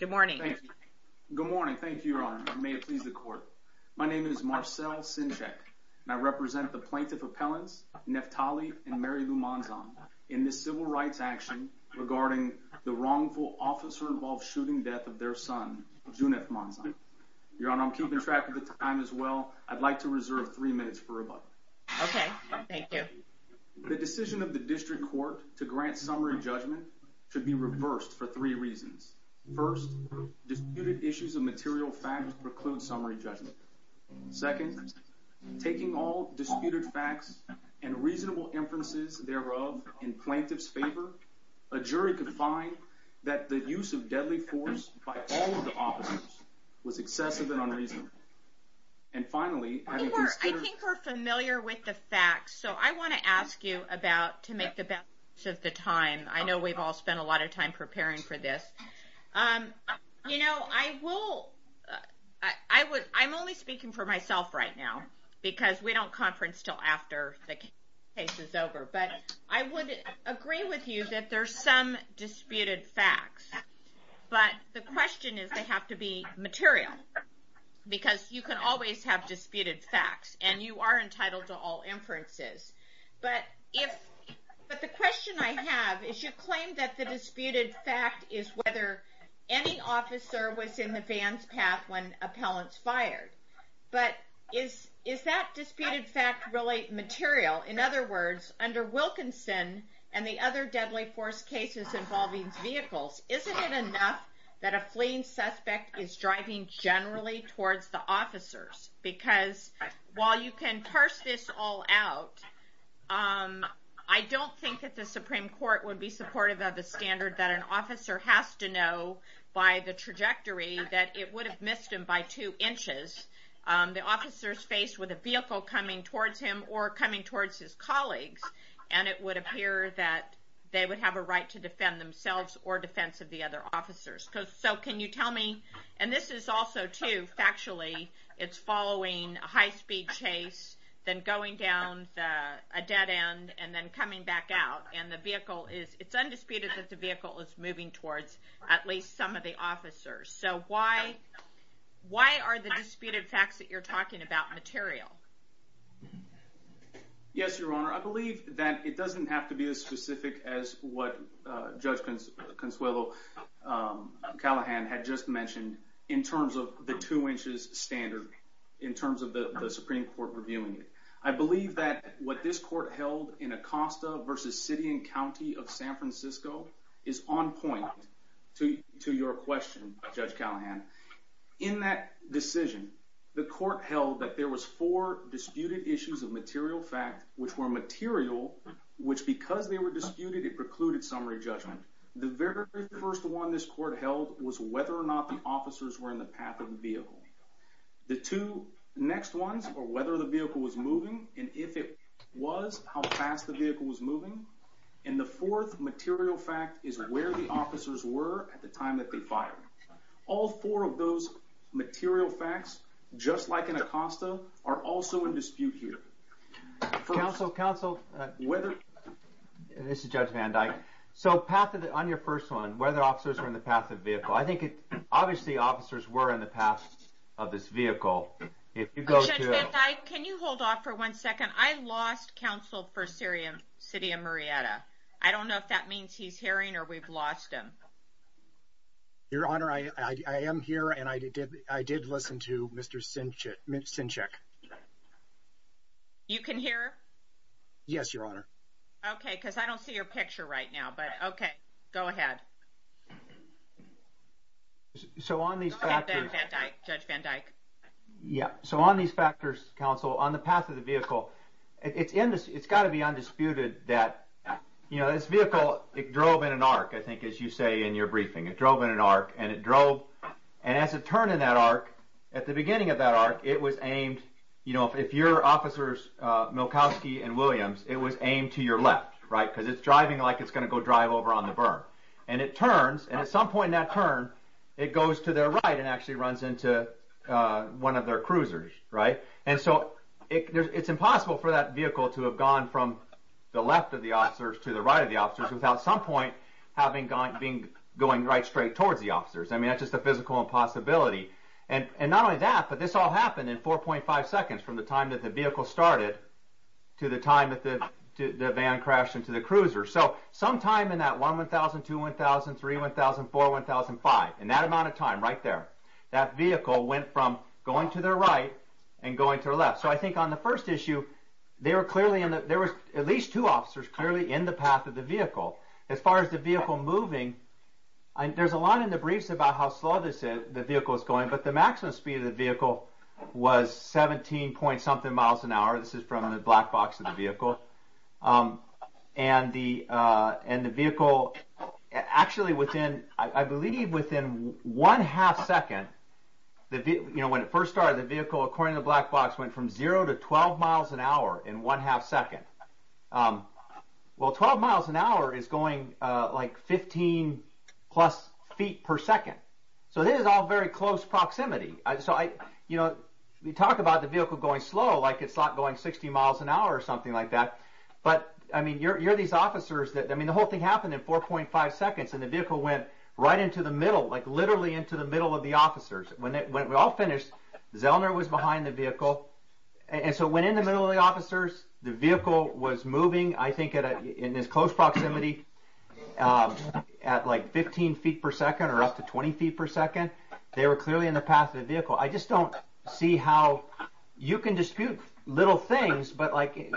Good morning. Good morning. Thank you, Your Honor. May it please the court. My name is Marcel Cinchek, and I represent the plaintiff appellants, Neftali and Mary Lou Monzon, in this civil rights action regarding the wrongful officer-involved shooting death of their son, Juneth Monzon. Your Honor, I'm keeping track of the time as well. I'd like to reserve three minutes for rebuttal. Okay, thank you. The decision of the district court to grant summary judgment should be reversed for three reasons. First, disputed issues of material facts preclude summary judgment. Second, taking all disputed facts and reasonable inferences thereof in plaintiff's favor, a jury could find that the use of deadly force by all of the officers was excessive and unreasonable. And finally, having considered- You know, I'm only speaking for myself right now, because we don't conference until after the case is over. But I would agree with you that there's some disputed facts. But the question is, they have to be material, because you can always have disputed facts, and you are entitled to all inferences. But the question I have is, you claim that the disputed fact is whether any officer was in the van's path when appellants fired. But is that disputed fact really material? In other words, under Wilkinson and the other deadly force cases involving vehicles, isn't it enough that a fleeing suspect is driving generally towards the officers? Because while you can parse this all out, I don't think that the Supreme Court would be supportive of the standard that an officer has to know by the trajectory that it would have missed him by two inches. The officer's faced with a vehicle coming towards him or coming towards his colleagues, and it would appear that they would have a right to defend themselves or defense of the other officers. So can you tell me, and this is also too factually, it's following a high-speed chase, then going down a dead end, and then coming back out. And the vehicle is, it's undisputed that the vehicle is moving towards at least some of the officers. So why are the disputed facts that you're talking about material? Yes, Your Honor. I believe that it doesn't have to be as specific as what Judge Consuelo Callahan had just mentioned in terms of the two inches standard, in terms of the Supreme Court reviewing it. I believe that what this court held in Acosta versus City and County of San Francisco is on point to your question, Judge Callahan. In that decision, the court held that there was four disputed issues of material fact, which were material, which because they were disputed, it precluded summary judgment. The very first one this court held was whether or not the officers were in the path of the vehicle. The two next ones were whether the vehicle was moving, and if it was, how fast the vehicle was moving. And the fourth material fact is where the officers were at the time that they fired. All four of those material facts, just like in Acosta, are also in dispute here. Counsel, counsel, whether this is Judge Van Dyke. So path of the on your first one, whether officers are in the path of vehicle. I think it obviously officers were in the past of this vehicle. If you go, can you hold off for one second? I lost counsel for Syria, city of Marietta. I don't know if that means he's hearing or we've lost him. Your Honor, I I am here and I did. I did listen to Mr. Simpson. Check. You can hear. Yes, Your Honor. OK, because I don't see your picture right now, but OK, go ahead. So on these judge Van Dyke. Yeah. So on these factors, counsel on the path of the vehicle, it's in this. It's got to be undisputed that, you know, this vehicle, it drove in an arc, I think, as you say, in your briefing. It drove in an arc and it drove. And as it turned in that arc at the beginning of that arc, it was aimed, you know, if your officers, Milkoski and Williams, it was aimed to your left, right? Because it's driving like it's going to go drive over on the burn. And it turns. And at some point that turn, it goes to their right and actually runs into one of their cruisers. Right. And so it's impossible for that vehicle to have gone from the left of the officers to the right of the officers without some point having gone being going right straight towards the officers. I mean, that's just a physical impossibility. And not only that, but this all happened in four point five seconds from the time that the vehicle started to the time that the van crashed into the cruiser. So sometime in that one, one thousand two, one thousand three, one thousand four, one thousand five, in that amount of time right there, that vehicle went from going to their right and going to their left. So I think on the first issue, they were clearly in that there was at least two officers clearly in the path of the vehicle. As far as the vehicle moving, there's a lot in the briefs about how slow the vehicle is going. But the maximum speed of the vehicle was 17 point something miles an hour. This is from the black box of the vehicle. And the vehicle actually within, I believe, within one half second, when it first started, the vehicle, according to the black box, went from zero to 12 miles an hour in one half second. Well, 12 miles an hour is going like 15 plus feet per second. So this is all very close proximity. So I, you know, we talk about the vehicle going slow, like it's not going 60 miles an hour or something like that. But I mean, you're these officers that I mean, the whole thing happened in four point five seconds and the vehicle went right into the middle, like literally into the middle of the officers. When it went, we all finished. Zellner was behind the vehicle. And so when in the middle of the officers, the vehicle was moving, I think, in this close proximity at like 15 feet per second or up to 20 feet per second, they were clearly in the path of the vehicle. I just don't see how you can dispute little things. But like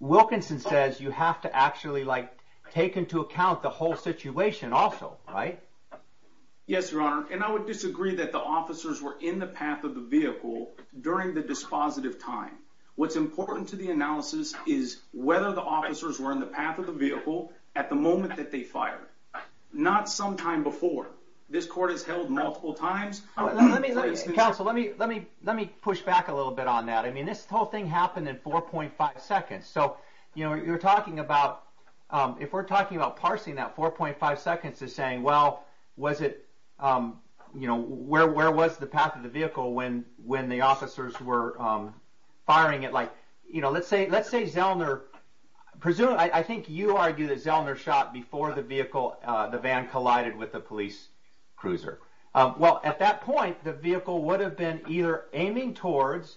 Wilkinson says, you have to actually like take into account the whole situation also, right? Yes, your honor. And I would disagree that the officers were in the path of the vehicle during the dispositive time. What's important to the analysis is whether the officers were in the path of the vehicle at the moment that they fired, not sometime before this court has held multiple times. Counsel, let me let me let me push back a little bit on that. I mean, this whole thing happened in four point five seconds. So, you know, you're talking about if we're talking about parsing that four point five seconds is saying, well, was it, you know, where where was the path of the vehicle when when the officers were firing it like, you know, let's say let's say Zellner, presumably, I think you argue that Zellner shot before the vehicle, the van collided with the police cruiser. Well, at that point, the vehicle would have been either aiming towards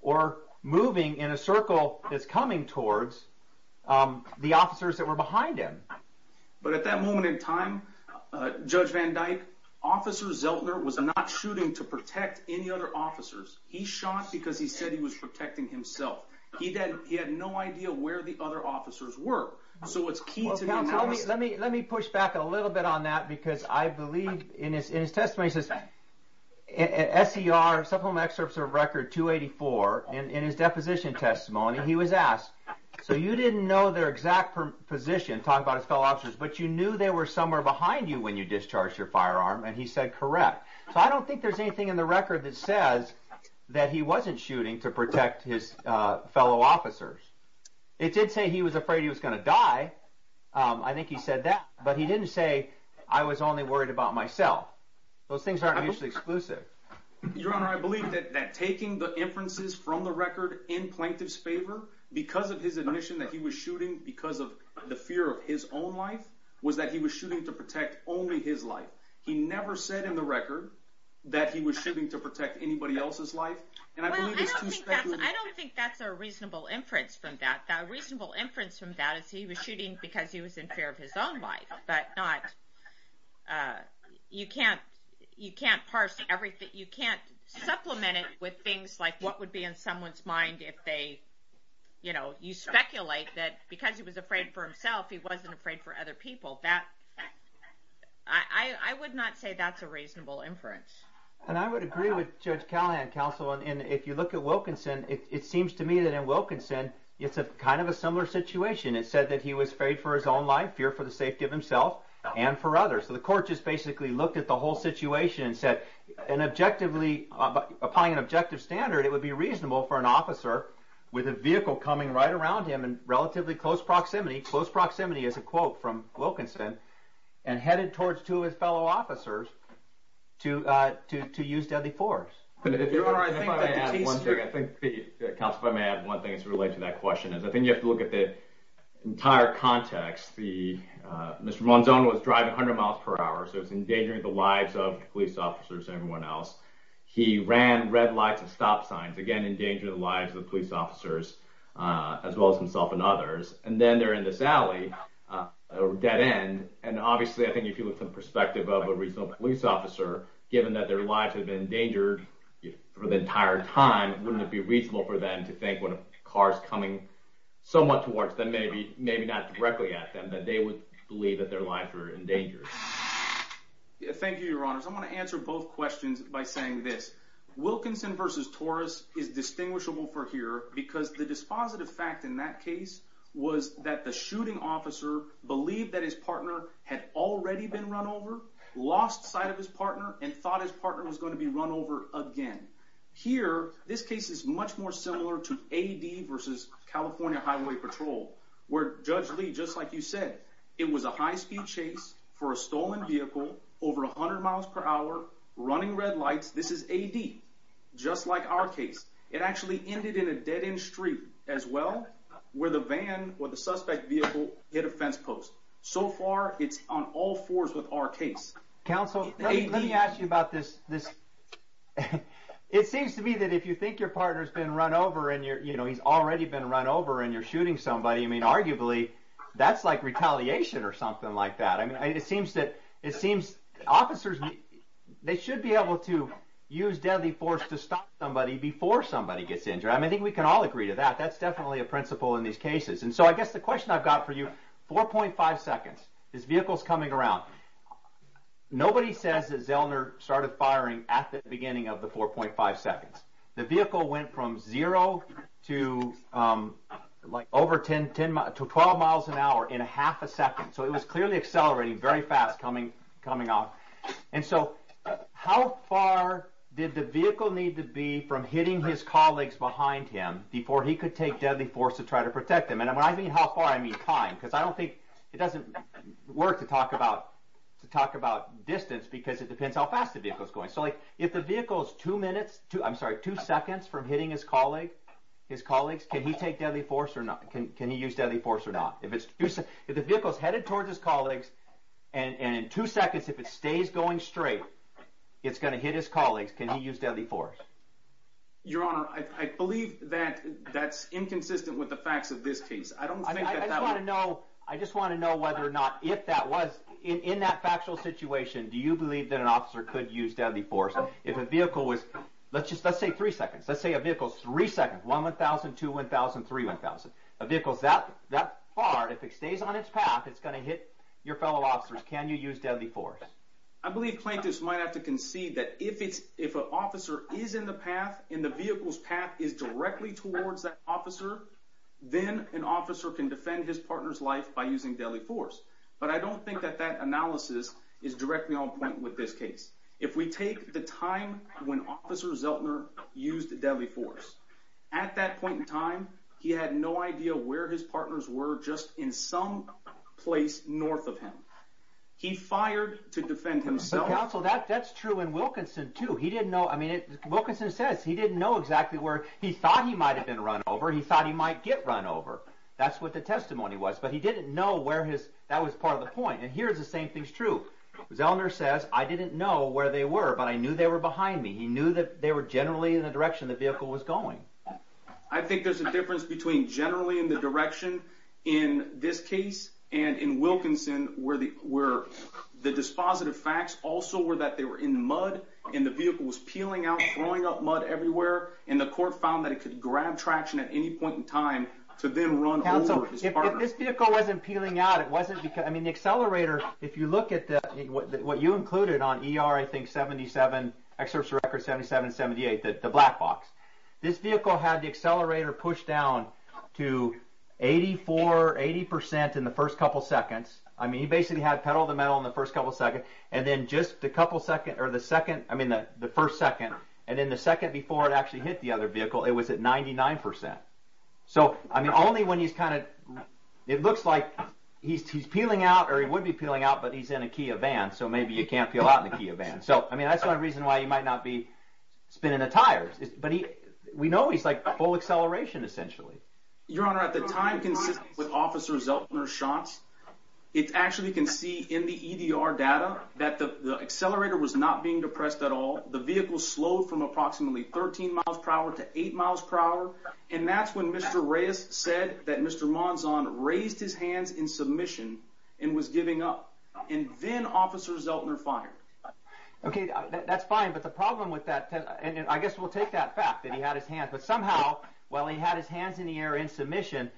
or moving in a circle that's coming towards the officers that were behind him. But at that moment in time, Judge Van Dyke, Officer Zellner was not shooting to protect any other officers. He shot because he said he was protecting himself. He then he had no idea where the other officers were. So it's key to me. Let me let me push back a little bit on that, because I believe in his in his testimony, says S.E.R. Supplemental Excerpts of Record 284 in his deposition testimony, he was asked. So you didn't know their exact position. Talk about his fellow officers. But you knew they were somewhere behind you when you discharged your firearm. And he said, correct. So I don't think there's anything in the record that says that he wasn't shooting to protect his fellow officers. It did say he was afraid he was going to die. I think he said that. But he didn't say I was only worried about myself. Those things aren't mutually exclusive. Your Honor, I believe that taking the inferences from the record in plaintiff's favor because of his admission that he was shooting because of the fear of his own life was that he was shooting to protect only his life. He never said in the record that he was shooting to protect anybody else's life. And I believe it's too speculative. I don't think that's a reasonable inference from that. A reasonable inference from that is he was shooting because he was in fear of his own life, but not you can't. You can't parse everything. You can't supplement it with things like what would be in someone's mind if they, you know, you speculate that because he was afraid for himself, he wasn't afraid for other people. I would not say that's a reasonable inference. And I would agree with Judge Callahan, counsel. And if you look at Wilkinson, it seems to me that in Wilkinson, it's kind of a similar situation. It said that he was afraid for his own life, fear for the safety of himself and for others. So the court just basically looked at the whole situation and said, upon an objective standard, it would be reasonable for an officer with a vehicle coming right around him in relatively close proximity, close proximity is a quote from Wilkinson, and headed towards two of his fellow officers to use deadly force. But if I may add one thing, I think counsel, if I may add one thing as it relates to that question is, I think you have to look at the entire context. Mr. Monzon was driving 100 miles per hour, so it's endangering the lives of police officers and everyone else. He ran red lights and stop signs, again, endangering the lives of police officers, as well as himself and others. And then they're in this alley, a dead end. And obviously, I think if you look from the perspective of a reasonable police officer, given that their lives have been endangered for the entire time, wouldn't it be reasonable for them to think when a car's coming somewhat towards them, maybe not directly at them, that they would believe that their lives were endangered? Thank you, Your Honors. I want to answer both questions by saying this. Wilkinson versus Torres is distinguishable for here because the dispositive fact in that case was that the shooting officer believed that his partner had already been run over, lost sight of his partner, and thought his partner was going to be run over again. Here, this case is much more similar to AD versus California Highway Patrol, where Judge Lee, just like you said, it was a high-speed chase for a stolen vehicle over 100 miles per hour, running red lights. This is AD, just like our case. It actually ended in a dead-end street, as well, where the van or the suspect vehicle hit a fence post. So far, it's on all fours with our case. Counsel, let me ask you about this. It seems to me that if you think your partner's been run over, and he's already been run over, and you're shooting somebody, I mean, arguably, that's like retaliation or something like that. It seems that officers, they should be able to use deadly force to stop somebody before somebody gets injured. I think we can all agree to that. That's definitely a principle in these cases. So, I guess the question I've got for you, 4.5 seconds, his vehicle's coming around. Nobody says that Zellner started firing at the beginning of the 4.5 seconds. The vehicle went from zero to 12 miles an hour in half a second. So, it was clearly accelerating very fast, coming off. And so, how far did the vehicle need to be from hitting his colleagues behind him before he could take deadly force to try to protect them? And when I say how far, I mean time, because I don't think it doesn't work to talk about distance, because it depends how fast the vehicle's going. So, if the vehicle's two seconds from hitting his colleagues, can he take deadly force or not? Can he use deadly force or not? If the vehicle's headed towards his colleagues, and in two seconds, if it stays going straight, it's going to hit his colleagues, can he use deadly force? Your Honor, I believe that that's inconsistent with the facts of this case. I just want to know whether or not, if that was, in that factual situation, do you believe that an officer could use deadly force? If a vehicle was, let's say three seconds, let's say a vehicle's three seconds, 1, 1,000, 2, 1,000, 3, 1,000. A vehicle's that far, if it stays on its path, it's going to hit your fellow officers. Can you use deadly force? I believe plaintiffs might have to concede that if an officer is in the path, and the vehicle's path is directly towards that officer, then an officer can defend his partner's life by using deadly force. But I don't think that that analysis is directly on point with this case. If we take the time when Officer Zellner used deadly force, at that point in time, he had no idea where his partners were just in some place north of him. He fired to defend himself. Counsel, that's true in Wilkinson, too. He didn't know, I mean, Wilkinson says he didn't know exactly where he thought he might have been run over. He thought he might get run over. That's what the testimony was. But he didn't know where his, that was part of the point. And here's the same thing's true. Zellner says, I didn't know where they were, but I knew they were behind me. He knew that they were generally in the direction the vehicle was going. I think there's a difference between generally in the direction in this case, and in Wilkinson, where the dispositive facts also were that they were in mud, and the vehicle was peeling out, throwing up mud everywhere, and the court found that it could grab traction at any point in time to then run over his partner. If this vehicle wasn't peeling out, it wasn't because, I mean, the accelerator, if you look at what you included on ER, I think 77, excerpts of record 77, 78, the black box, this vehicle had the accelerator pushed down to 84, 80% in the first couple seconds. I mean, he basically had pedal to the metal in the first couple seconds, and then just a couple seconds, or the second, I mean, the first second, and then the second before it actually hit the other vehicle, it was at 99%. So, I mean, only when he's kind of, it looks like he's peeling out, or he would be peeling out, but he's in a Kia van, so maybe you can't peel out in a Kia van. So, I mean, that's one reason why he might not be spinning the tires, but we know he's like full acceleration, essentially. Your Honor, at the time consistent with Officer Zeltner's shots, it actually can see in the EDR data that the accelerator was not being depressed at all. The vehicle slowed from approximately 13 miles per hour to 8 miles per hour, and that's when Mr. Reyes said that Mr. Monzon raised his hands in submission and was giving up, and then Officer Zeltner fired. Okay, that's fine, but the problem with that, and I guess we'll take that fact that he had his hands, but somehow, while he had his hands in the air in submission,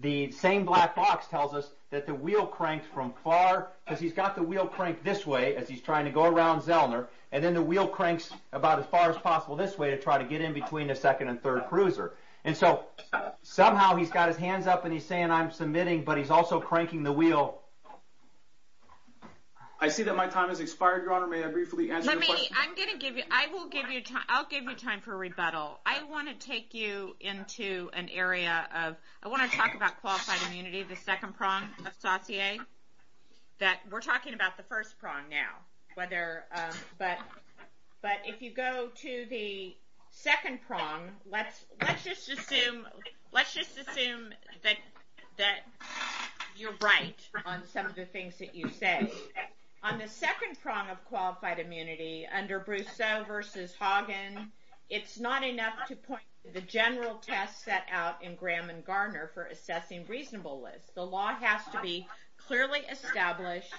the same black box tells us that the wheel cranked from far, because he's got the wheel cranked this way as he's trying to go around Zeltner, and then the wheel cranks about as far as possible this way to try to get in between the second and third cruiser, and so somehow he's got his hands up and he's saying, I'm submitting, but he's also cranking the wheel. I see that my time has expired, Your Honor, may I briefly answer your question? On the second prong of qualified immunity, under Brousseau v. Hagen, it's not enough to point to the general test set out in Graham and Garner for assessing reasonableness. The law has to be clearly established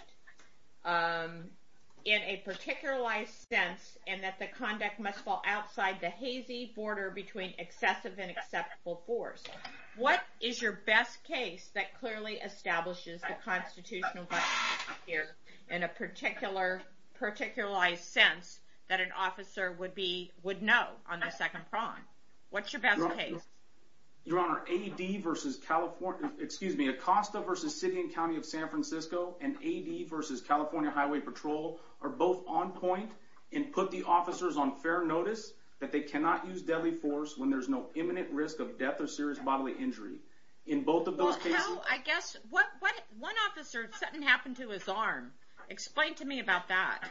in a particularized sense, and that the conduct must fall outside the hazy border between excessive and acceptable force. What is your best case that clearly establishes the constitutional question here in a particularized sense that an officer would know on the second prong? What's your best case? Your Honor, Acosta v. City and County of San Francisco and AD v. California Highway Patrol are both on point and put the officers on fair notice that they cannot use deadly force when there's no imminent risk of death or serious bodily injury. In both of those cases- Well, how, I guess, what, one officer, something happened to his arm. Explain to me about that.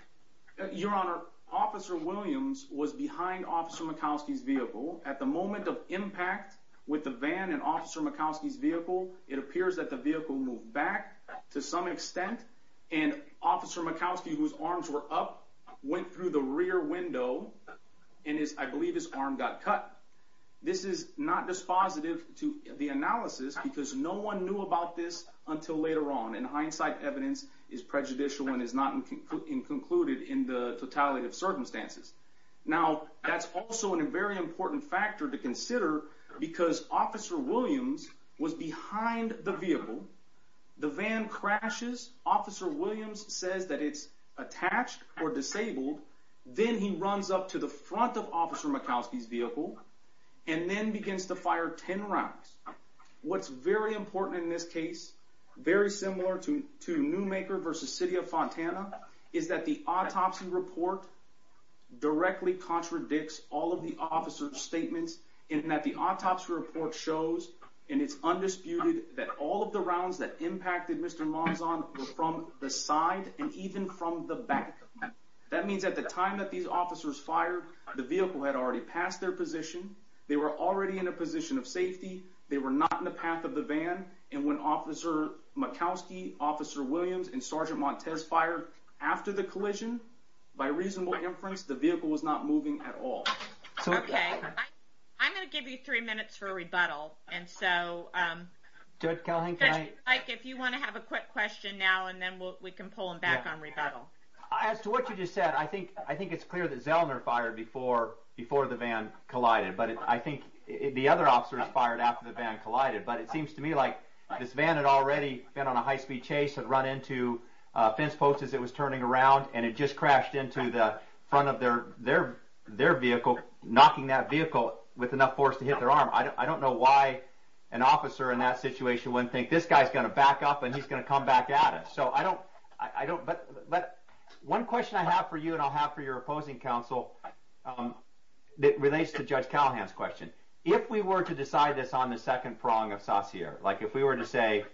Your Honor, Officer Williams was behind Officer Murkowski's vehicle. At the moment of impact with the van and Officer Murkowski's vehicle, it appears that the vehicle moved back to some extent, and Officer Murkowski, whose arms were up, went through the rear window and his, I believe, his arm got cut. This is not dispositive to the analysis because no one knew about this until later on, and hindsight evidence is prejudicial and is not included in the totality of circumstances. Now, that's also a very important factor to consider because Officer Williams was behind the vehicle. The van crashes. Officer Williams says that it's attached or disabled. Then he runs up to the front of Officer Murkowski's vehicle and then begins to fire 10 rounds. What's very important in this case, very similar to Newmaker versus City of Fontana, is that the autopsy report directly contradicts all of the officer's statements in that the autopsy report shows, and it's undisputed, that all of the rounds that impacted Mr. Monzon were from the side and even from the back. That means at the time that these officers fired, the vehicle had already passed their position. They were already in a position of safety. They were not in the path of the van, and when Officer Murkowski, Officer Williams, and Sergeant Montez fired after the collision, by reasonable inference, the vehicle was not moving at all. Okay. I'm going to give you three minutes for a rebuttal, and so, if you want to have a quick question now, and then we can pull him back on rebuttal. As to what you just said, I think it's clear that Zellner fired before the van collided, but I think the other officers fired after the van collided. But it seems to me like this van had already been on a high-speed chase, had run into fence posts as it was turning around, and it just crashed into the front of their vehicle, knocking that vehicle with enough force to hit their arm. I don't know why an officer in that situation wouldn't think, this guy's going to back up and he's going to come back at us. One question I have for you, and I'll have for your opposing counsel, that relates to Judge Callahan's question. If we were to decide this on the second prong of saucier, like if we were to say,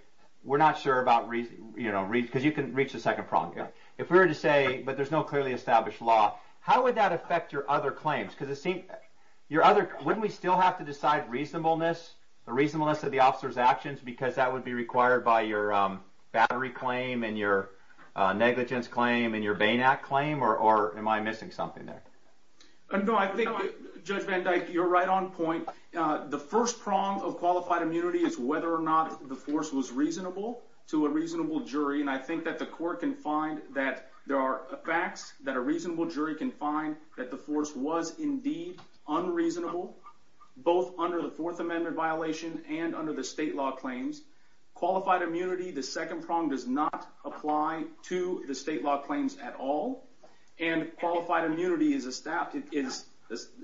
we're not sure about, you know, because you can reach the second prong. If we were to say, but there's no clearly established law, how would that affect your other claims? Wouldn't we still have to decide reasonableness, the reasonableness of the officer's actions, because that would be required by your battery claim and your negligence claim and your Bain Act claim? Or am I missing something there? No, I think, Judge Van Dyke, you're right on point. The first prong of qualified immunity is whether or not the force was reasonable to a reasonable jury. And I think that the court can find that there are facts that a reasonable jury can find that the force was indeed unreasonable, both under the Fourth Amendment violation and under the state law claims. Qualified immunity, the second prong, does not apply to the state law claims at all. And qualified immunity is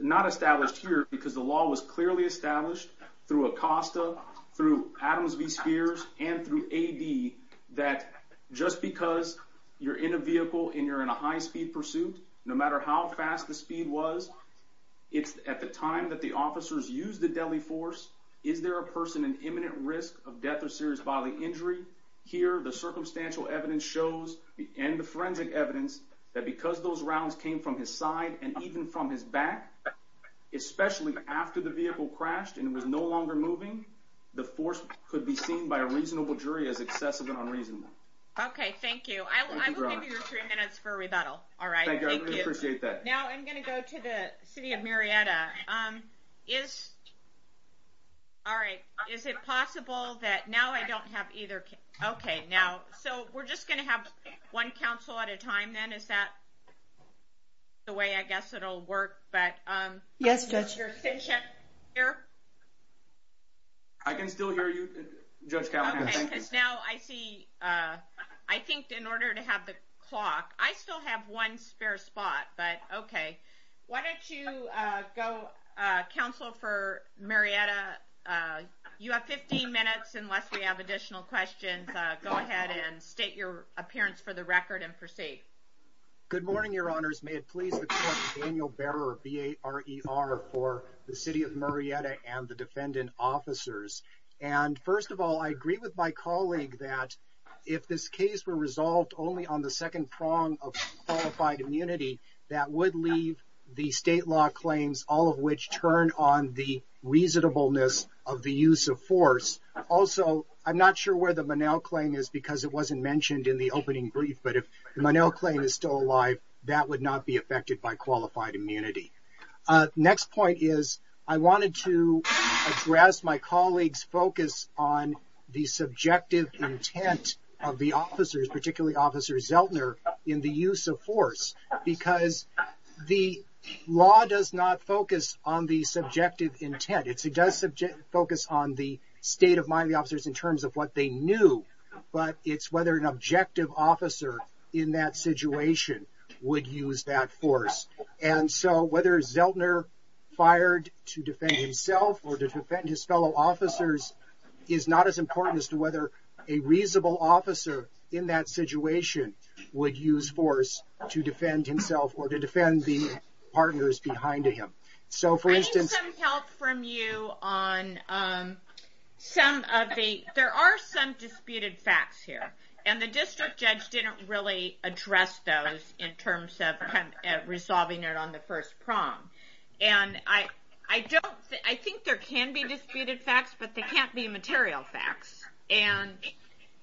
not established here because the law was clearly established through ACOSTA, through Adams v. Spears, and through AD that just because you're in a vehicle and you're in a high-speed pursuit, no matter how fast the speed was, it's at the time that the officers used the deadly force, is there a person in imminent risk of death or serious bodily injury? Here, the circumstantial evidence shows, and the forensic evidence, that because those rounds came from his side and even from his back, especially after the vehicle crashed and was no longer moving, the force could be seen by a reasonable jury as excessive and unreasonable. OK, thank you. I will give you your three minutes for rebuttal. All right, thank you. Thank you, I really appreciate that. Now I'm going to go to the city of Marietta. Is it possible that now I don't have either? OK, so we're just going to have one counsel at a time then. Is that the way, I guess, it'll work? Yes, Judge. Is your thing checked here? I can still hear you, Judge Callahan. OK, because now I see, I think in order to have the clock, I still have one spare spot. But OK, why don't you go, counsel for Marietta, you have 15 minutes, unless we have additional questions. Go ahead and state your appearance for the record and proceed. Good morning, your honors. May it please the court, Daniel Bearer, B-A-R-E-R, for the city of Marietta and the defendant officers. And first of all, I agree with my colleague that if this case were resolved only on the second prong of qualified immunity, that would leave the state law claims, all of which turn on the reasonableness of the use of force. Also, I'm not sure where the Monell claim is because it wasn't mentioned in the opening brief, but if the Monell claim is still alive, that would not be affected by qualified immunity. Next point is I wanted to address my colleague's focus on the subjective intent of the officers, particularly Officer Zeltner, in the use of force because the law does not focus on the subjective intent. It does focus on the state of mind of the officers in terms of what they knew, but it's whether an objective officer in that situation would use that force. And so whether Zeltner fired to defend himself or to defend his fellow officers is not as important as to whether a reasonable officer in that situation would use force to defend himself or to defend the partners behind him. So, for instance... I need some help from you on some of the... there are some disputed facts here, and the district judge didn't really address those in terms of resolving it on the first prong. And I think there can be disputed facts, but they can't be material facts. And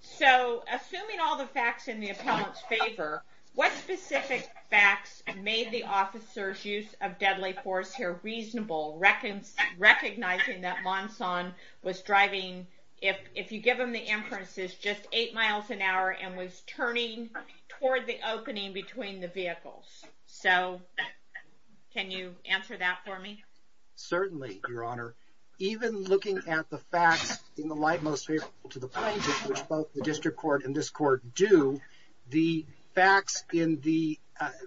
so, assuming all the facts in the appellant's favor, what specific facts made the officers' use of deadly force here reasonable, recognizing that Monson was driving, if you give them the inferences, just 8 miles an hour and was turning toward the opening between the vehicles? So, can you answer that for me? Certainly, Your Honor. Even looking at the facts in the light most favorable to the plaintiff, which both the district court and this court do, the facts in the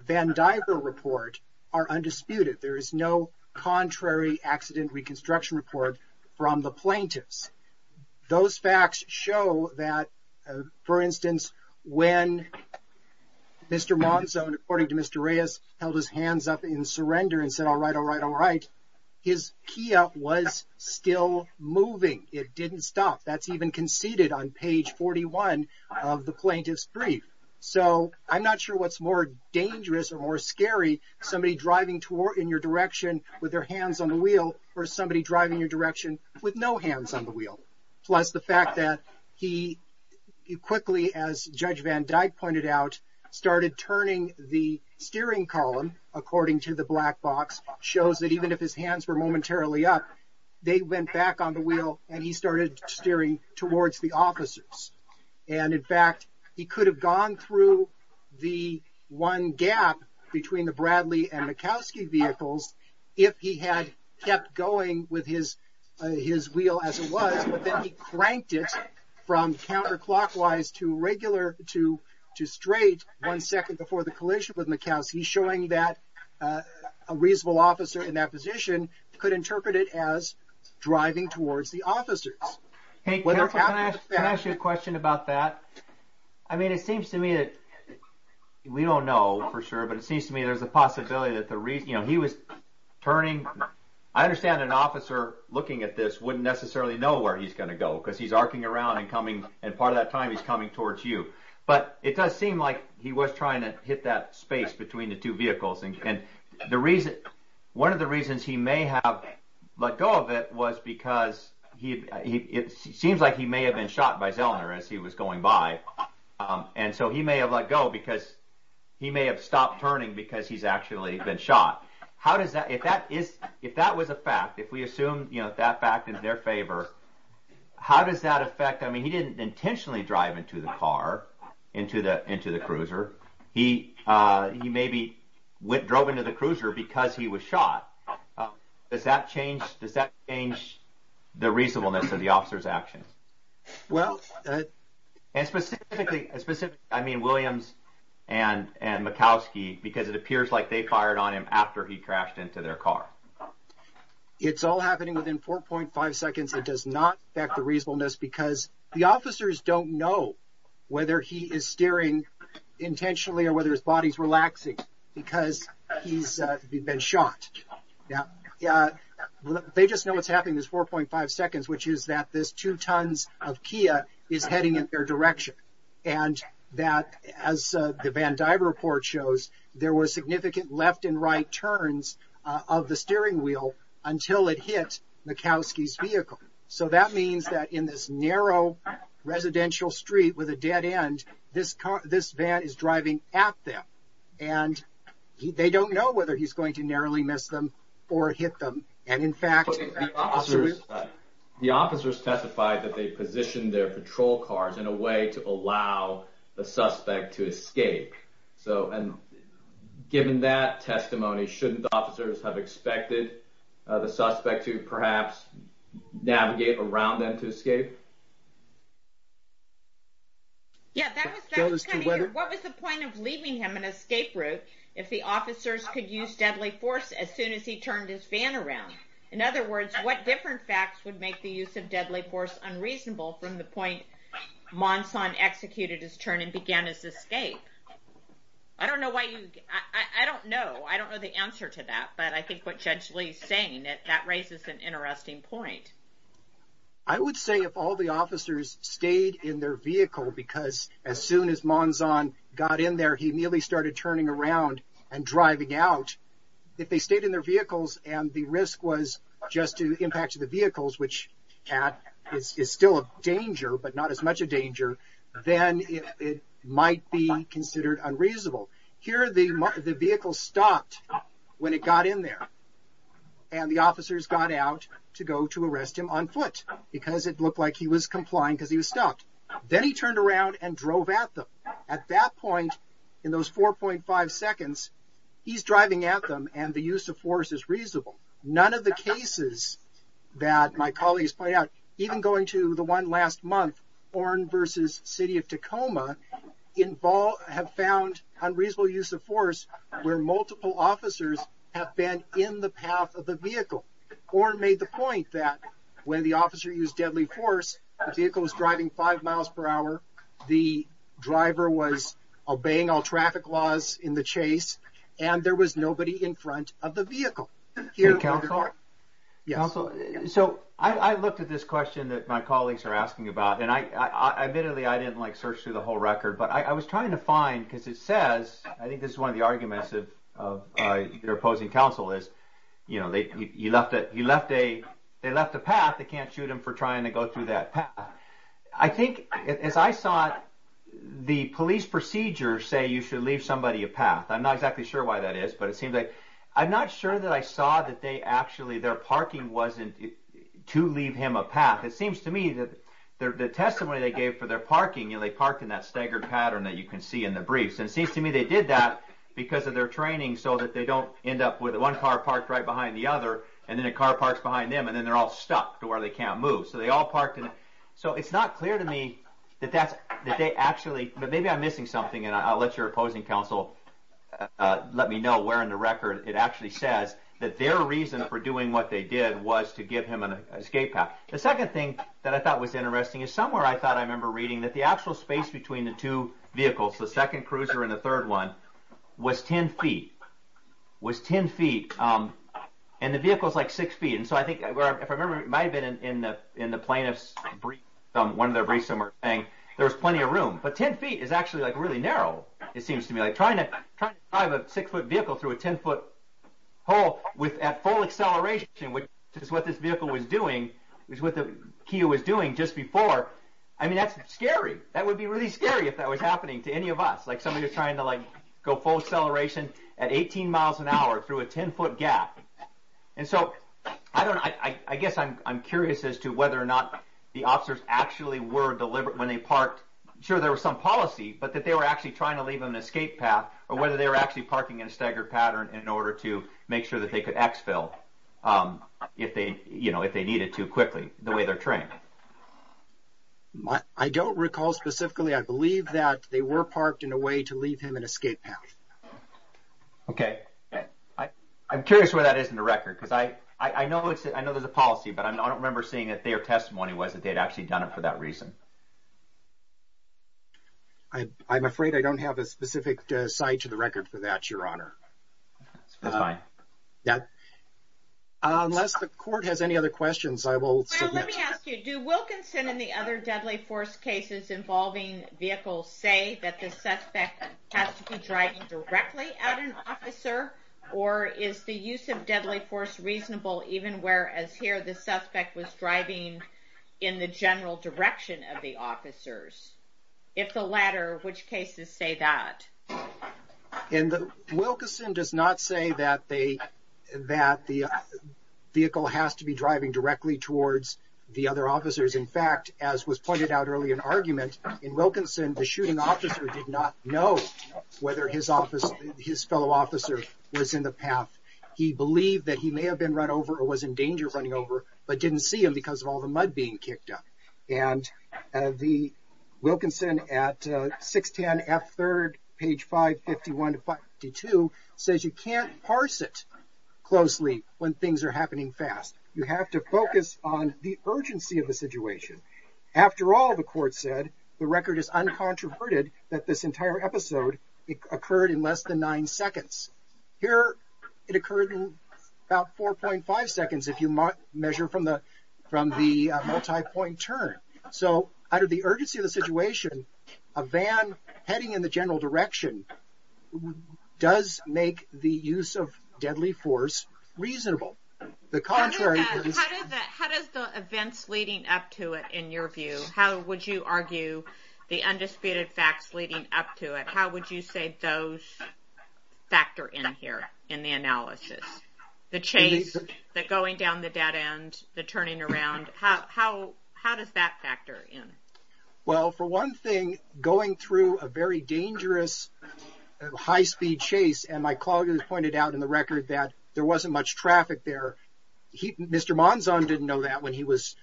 Van Diver report are undisputed. There is no contrary accident reconstruction report from the plaintiffs. Those facts show that, for instance, when Mr. Monson, according to Mr. Reyes, held his hands up in surrender and said, all right, all right, all right, his Kia was still moving. It didn't stop. That's even conceded on page 41 of the plaintiff's brief. So, I'm not sure what's more dangerous or more scary, somebody driving in your direction with their hands on the wheel or somebody driving in your direction with no hands on the wheel. Plus, the fact that he quickly, as Judge Van Dyke pointed out, started turning the steering column, according to the black box, shows that even if his hands were momentarily up, they went back on the wheel and he started steering towards the officers. And, in fact, he could have gone through the one gap between the Bradley and the Mikowski vehicles if he had kept going with his wheel as it was, but then he cranked it from counterclockwise to straight one second before the collision with Mikowski, showing that a reasonable officer in that position could interpret it as driving towards the officers. Can I ask you a question about that? I mean, it seems to me that, we don't know for sure, but it seems to me there's a possibility that he was turning. I understand an officer looking at this wouldn't necessarily know where he's going to go because he's arcing around and part of that time he's coming towards you, but it does seem like he was trying to hit that space between the two vehicles. One of the reasons he may have let go of it was because it seems like he may have been shot by Zellner as he was going by, and so he may have let go because he may have stopped turning because he's actually been shot. If that was a fact, if we assume that fact is in their favor, how does that affect... I mean, he didn't intentionally drive into the car, into the cruiser. He maybe drove into the cruiser because he was shot. Does that change the reasonableness of the officer's actions? And specifically, I mean, Williams and Mikowski, because it appears like they fired on him after he crashed into their car. It's all happening within 4.5 seconds. It does not affect the reasonableness because the officers don't know whether he is steering intentionally or whether his body's relaxing because he's been shot. They just know what's happening is 4.5 seconds, which is that this two tons of Kia is heading in their direction and that, as the Van Diver report shows, there were significant left and right turns of the steering wheel until it hit Mikowski's vehicle. So that means that in this narrow residential street with a dead end, this van is driving at them, and they don't know whether he's going to narrowly miss them or hit them, and in fact... The officers testified that they positioned their patrol cars in a way to allow the suspect to escape. So given that testimony, shouldn't the officers have expected the suspect to perhaps navigate around them to escape? Yeah, that was coming here. What was the point of leaving him an escape route if the officers could use deadly force as soon as he turned his van around? In other words, what different facts would make the use of deadly force unreasonable from the point Monson executed his turn and began his escape? I don't know why you... I don't know. I don't know the answer to that. But I think what Judge Lee's saying, that raises an interesting point. I would say if all the officers stayed in their vehicle because as soon as Monson got in there, he nearly started turning around and driving out. If they stayed in their vehicles and the risk was just to impact the vehicles, which is still a danger, but not as much a danger, then it might be considered unreasonable. Here the vehicle stopped when it got in there, and the officers got out to go to arrest him on foot because it looked like he was complying because he was stopped. Then he turned around and drove at them. At that point, in those 4.5 seconds, he's driving at them and the use of force is reasonable. None of the cases that my colleagues point out, even going to the one last month, Orne versus City of Tacoma, have found unreasonable use of force where multiple officers have been in the path of the vehicle. Orne made the point that when the officer used deadly force, the vehicle was driving 5 miles per hour, the driver was obeying all traffic laws in the chase, and there was nobody in front of the vehicle. Councilor? I looked at this question that my colleagues are asking about, and admittedly I didn't search through the whole record, but I was trying to find, because it says, I think this is one of the arguments of your opposing council, is they left a path, they can't shoot him for trying to go through that path. I think, as I saw it, the police procedures say you should leave somebody a path. I'm not exactly sure why that is, but it seems like, I'm not sure that I saw that their parking wasn't to leave him a path. It seems to me that the testimony they gave for their parking, they parked in that staggered pattern that you can see in the briefs. It seems to me they did that because of their training so that they don't end up with one car parked right behind the other, and then a car parks behind them, and then they're all stuck to where they can't move. So it's not clear to me that they actually, but maybe I'm missing something, and I'll let your opposing council let me know where in the record it actually says that their reason for doing what they did was to give him an escape path. The second thing that I thought was interesting is somewhere I thought I remember reading that the actual space between the two vehicles, the second cruiser and the third one, was 10 feet. And the vehicle's like six feet, and so I think, if I remember, it might have been in the plaintiff's briefs, one of their briefs somewhere, saying there was plenty of room, but 10 feet is actually really narrow, it seems to me. Trying to drive a six-foot vehicle through a 10-foot hole at full acceleration, which is what this vehicle was doing, is what the KIA was doing just before, I mean, that's scary. That would be really scary if that was happening to any of us. Like somebody was trying to go full acceleration at 18 miles an hour through a 10-foot gap. And so I guess I'm curious as to whether or not the officers actually were deliberate when they parked. Sure, there was some policy, but that they were actually trying to leave them an escape path, or whether they were actually parking in a staggered pattern in order to make sure that they could exfil if they needed to quickly, the way they're trained. I don't recall specifically. I believe that they were parked in a way to leave him an escape path. Okay. I'm curious where that is in the record, because I know there's a policy, but I don't remember seeing that their testimony was that they'd actually done it for that reason. I'm afraid I don't have a specific site to the record for that, Your Honor. That's fine. Unless the court has any other questions, I will submit. Well, let me ask you, do Wilkinson and the other deadly force cases involving vehicles say that the suspect has to be driving directly at an officer, or is the use of deadly force reasonable even whereas here the suspect was driving in the general direction of the officers? If the latter, which cases say that? Wilkinson does not say that the vehicle has to be driving directly towards the other officers. In fact, as was pointed out earlier in the argument, in Wilkinson the shooting officer did not know whether his fellow officer was in the path. He believed that he may have been run over or was in danger running over, but didn't see him because of all the mud being kicked up. And Wilkinson at 610 F3rd, page 551 to 552, says you can't parse it closely when things are happening fast. You have to focus on the urgency of the situation. After all, the court said, the record is uncontroverted that this entire episode occurred in less than nine seconds. Here it occurred in about 4.5 seconds if you measure from the multi-point turn. So out of the urgency of the situation, a van heading in the general direction does make the use of deadly force reasonable. How does the events leading up to it in your view, how would you argue the undisputed facts leading up to it, how would you say those factor in here in the analysis? The chase, the going down the dead end, the turning around, how does that factor in? Well, for one thing, going through a very dangerous high-speed chase, and my colleague has pointed out in the record that there wasn't much traffic there. Mr. Monzon didn't know that when he was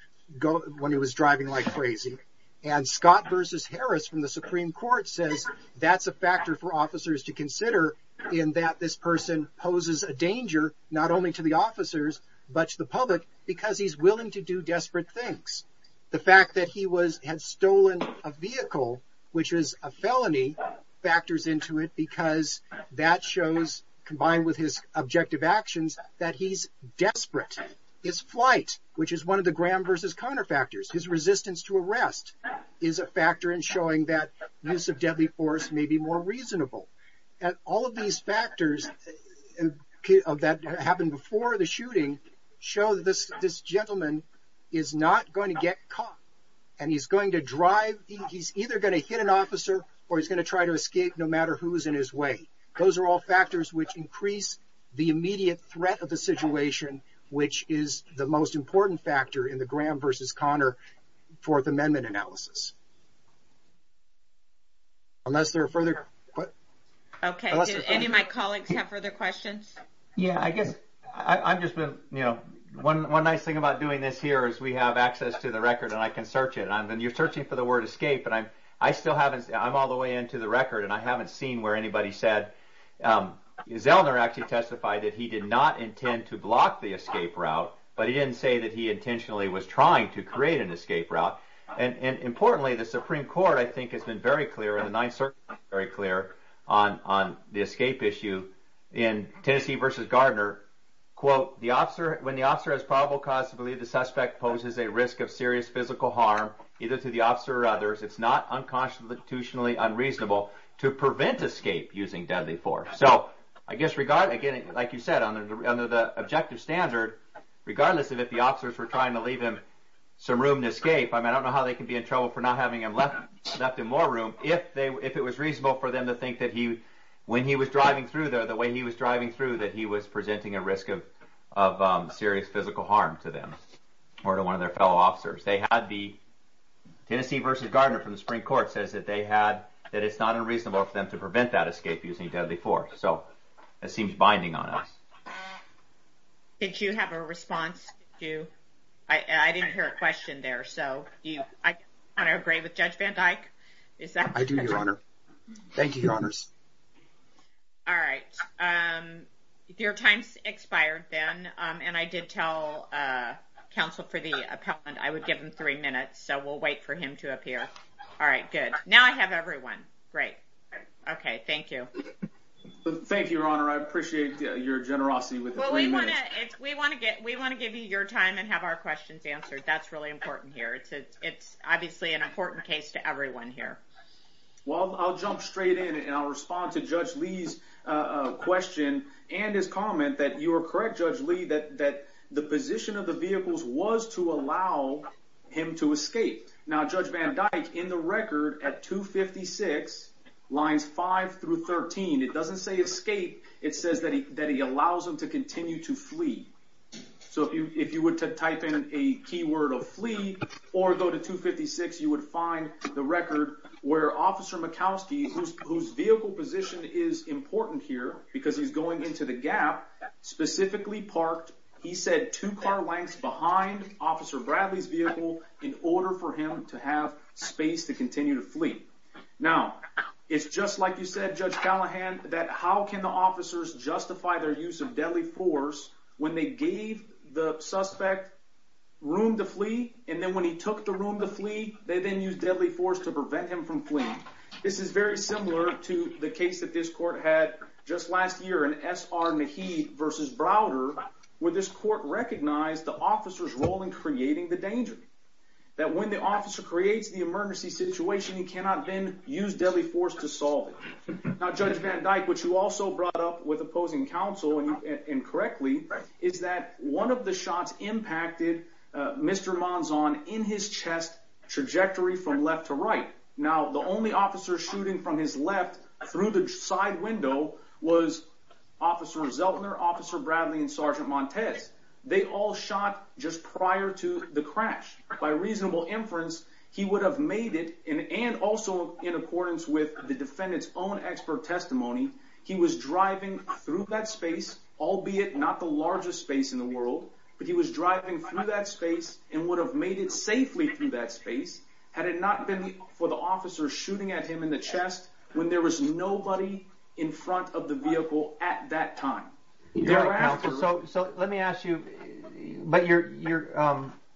driving like crazy. And Scott versus Harris from the Supreme Court says that's a factor for officers to consider in that this person poses a danger not only to the officers, but to the public because he's willing to do desperate things. The fact that he had stolen a vehicle, which is a felony, factors into it because that shows, combined with his objective actions, that he's desperate. His flight, which is one of the Graham versus Conner factors, his resistance to arrest is a factor in showing that use of deadly force may be more reasonable. All of these factors that happened before the shooting show that this gentleman is not going to get caught. And he's going to drive, he's either going to hit an officer or he's going to try to escape no matter who's in his way. Those are all factors which increase the immediate threat of the situation, which is the most important factor in the Graham versus Conner Fourth Amendment analysis. Unless there are further... Okay, did any of my colleagues have further questions? Yeah, I guess I'm just going to, you know, one nice thing about doing this here is we have access to the record and I can search it. And you're searching for the word escape, but I still haven't, I'm all the way into the record and I haven't seen where anybody said, Zellner actually testified that he did not intend to block the escape route, but he didn't say that he intentionally was trying to create an escape route. And importantly, the Supreme Court, I think, has been very clear in the Ninth Circuit, very clear on the escape issue in Tennessee versus Gardner. Quote, when the officer has probable cause to believe the suspect poses a risk of serious physical harm, either to the officer or others, it's not unconstitutionally unreasonable to prevent escape using deadly force. So I guess, again, like you said, under the objective standard, regardless of if the officers were trying to leave him some room to escape, I mean, I don't know how they can be in trouble for not having him left in more room, if it was reasonable for them to think that he, when he was driving through there, the way he was driving through, that he was presenting a risk of serious physical harm to them, or to one of their fellow officers. Tennessee versus Gardner from the Supreme Court says that it's not unreasonable for them to prevent that escape using deadly force. So that seems binding on us. Did you have a response? I didn't hear a question there. So do you want to agree with Judge Van Dyke? I do, Your Honor. Thank you, Your Honors. All right. Your time's expired then. And I did tell counsel for the appellant I would give him three minutes. So we'll wait for him to appear. All right, good. Now I have everyone. Great. OK, thank you. Thank you, Your Honor. I appreciate your generosity with the three minutes. Well, we want to give you your time and have our questions answered. That's really important here. It's obviously an important case to everyone here. Well, I'll jump straight in, and I'll respond to Judge Lee's question and his comment that you are correct, Judge Lee, that the position of the vehicles was to allow him to escape. Now, Judge Van Dyke, in the record at 256 lines 5 through 13, it doesn't say escape. It says that he allows them to continue to flee. So if you were to type in a keyword of flee or go to 256, you would find the record where Officer Mikowski, whose vehicle position is important here because he's going into the gap, specifically parked, he said, two car lengths behind Officer Bradley's vehicle in order for him to have space to continue to flee. Now, it's just like you said, Judge Callahan, that how can the officers justify their use of deadly force when they gave the suspect room to flee, and then when he took the room to flee, they then used deadly force to prevent him from fleeing. This is very similar to the case that this court had just last year in S.R. Maheed v. Browder, where this court recognized the officer's role in creating the danger, that when the officer creates the emergency situation, he cannot then use deadly force to solve it. Now, Judge Van Dyke, what you also brought up with opposing counsel, and correctly, is that one of the shots impacted Mr. Monzon in his chest trajectory from left to right. Now, the only officer shooting from his left through the side window was Officer Zeltner, Officer Bradley, and Sergeant Montez. They all shot just prior to the crash. By reasonable inference, he would have made it, and also in accordance with the defendant's own expert testimony, he was driving through that space, albeit not the largest space in the world, but he was driving through that space and would have made it safely through that space had it not been for the officer shooting at him in the chest when there was nobody in front of the vehicle at that time. So let me ask you, but your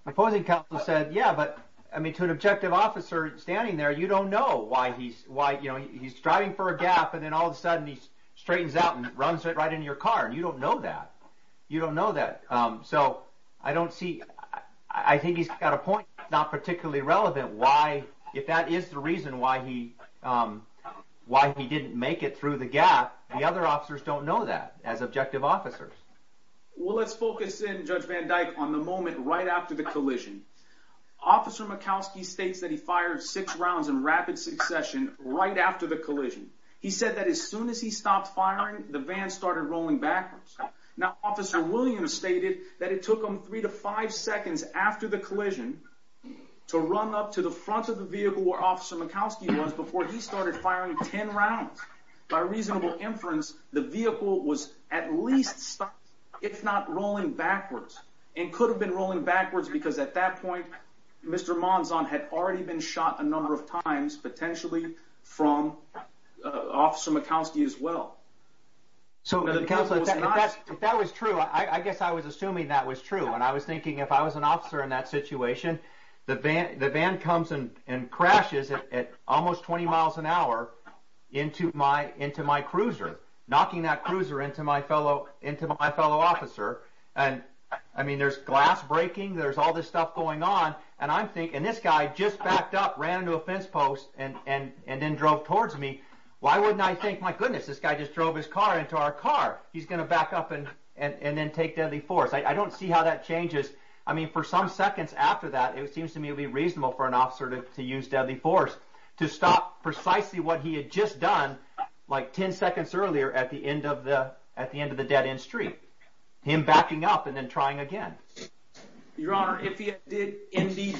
opposing counsel said, yeah, but to an objective officer standing there, you don't know why he's driving for a gap, and then all of a sudden he straightens out and runs right into your car. You don't know that. You don't know that. So I don't see – I think he's got a point. It's not particularly relevant why, if that is the reason why he didn't make it through the gap, the other officers don't know that as objective officers. Well, let's focus in, Judge Van Dyke, on the moment right after the collision. Officer Mikowski states that he fired six rounds in rapid succession right after the collision. He said that as soon as he stopped firing, the van started rolling backwards. Now, Officer Williams stated that it took him three to five seconds after the collision to run up to the front of the vehicle where Officer Mikowski was before he started firing ten rounds. By reasonable inference, the vehicle was at least stopped, if not rolling backwards, and could have been rolling backwards because at that point, Mr. Monzon had already been shot a number of times, potentially from Officer Mikowski as well. So, Counselor, if that was true, I guess I was assuming that was true, and I was thinking if I was an officer in that situation, the van comes and crashes at almost 20 miles an hour into my cruiser, knocking that cruiser into my fellow officer, and, I mean, there's glass breaking, there's all this stuff going on, and I'm thinking – and this guy just backed up, ran into a fence post, and then drove towards me. Why wouldn't I think, my goodness, this guy just drove his car into our car. He's going to back up and then take deadly force. I don't see how that changes. I mean, for some seconds after that, it seems to me it would be reasonable for an officer to use deadly force to stop precisely what he had just done like ten seconds earlier at the end of the dead-end street, him backing up and then trying again. Your Honor, if he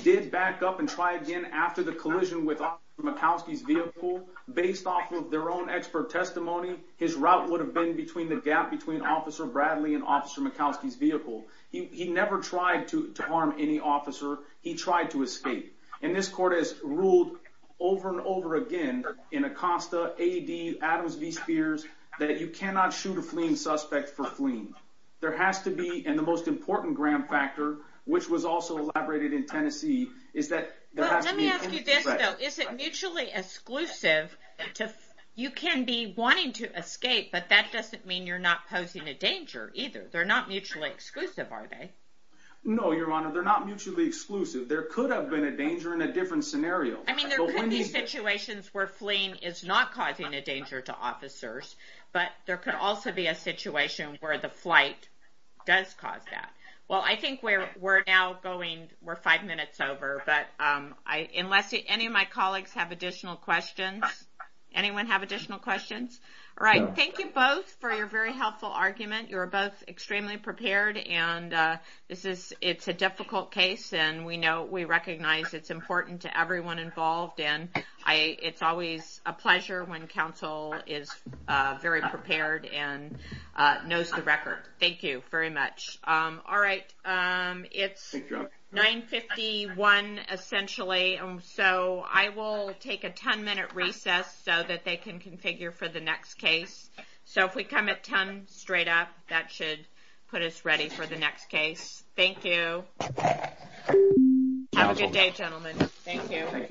did back up and try again after the collision with Officer Mikowski's vehicle, based off of their own expert testimony, his route would have been between the gap between Officer Bradley and Officer Mikowski's vehicle. He never tried to harm any officer. He tried to escape. And this court has ruled over and over again in Acosta, AED, Adams v. Spears, that you cannot shoot a fleeing suspect for fleeing. There has to be, and the most important gram factor, which was also elaborated in Tennessee, Well, let me ask you this, though. Is it mutually exclusive? You can be wanting to escape, but that doesn't mean you're not posing a danger either. They're not mutually exclusive, are they? No, Your Honor, they're not mutually exclusive. There could have been a danger in a different scenario. I mean, there could be situations where fleeing is not causing a danger to officers, but there could also be a situation where the flight does cause that. Well, I think we're now going, we're five minutes over, but unless any of my colleagues have additional questions. Anyone have additional questions? All right, thank you both for your very helpful argument. You were both extremely prepared, and it's a difficult case, and we recognize it's important to everyone involved, and it's always a pleasure when counsel is very prepared and knows the record. Thank you very much. All right, it's 9.51 essentially, so I will take a 10-minute recess so that they can configure for the next case. So if we come at 10 straight up, that should put us ready for the next case. Thank you. Have a good day, gentlemen. Thank you. Thank you. Be safe.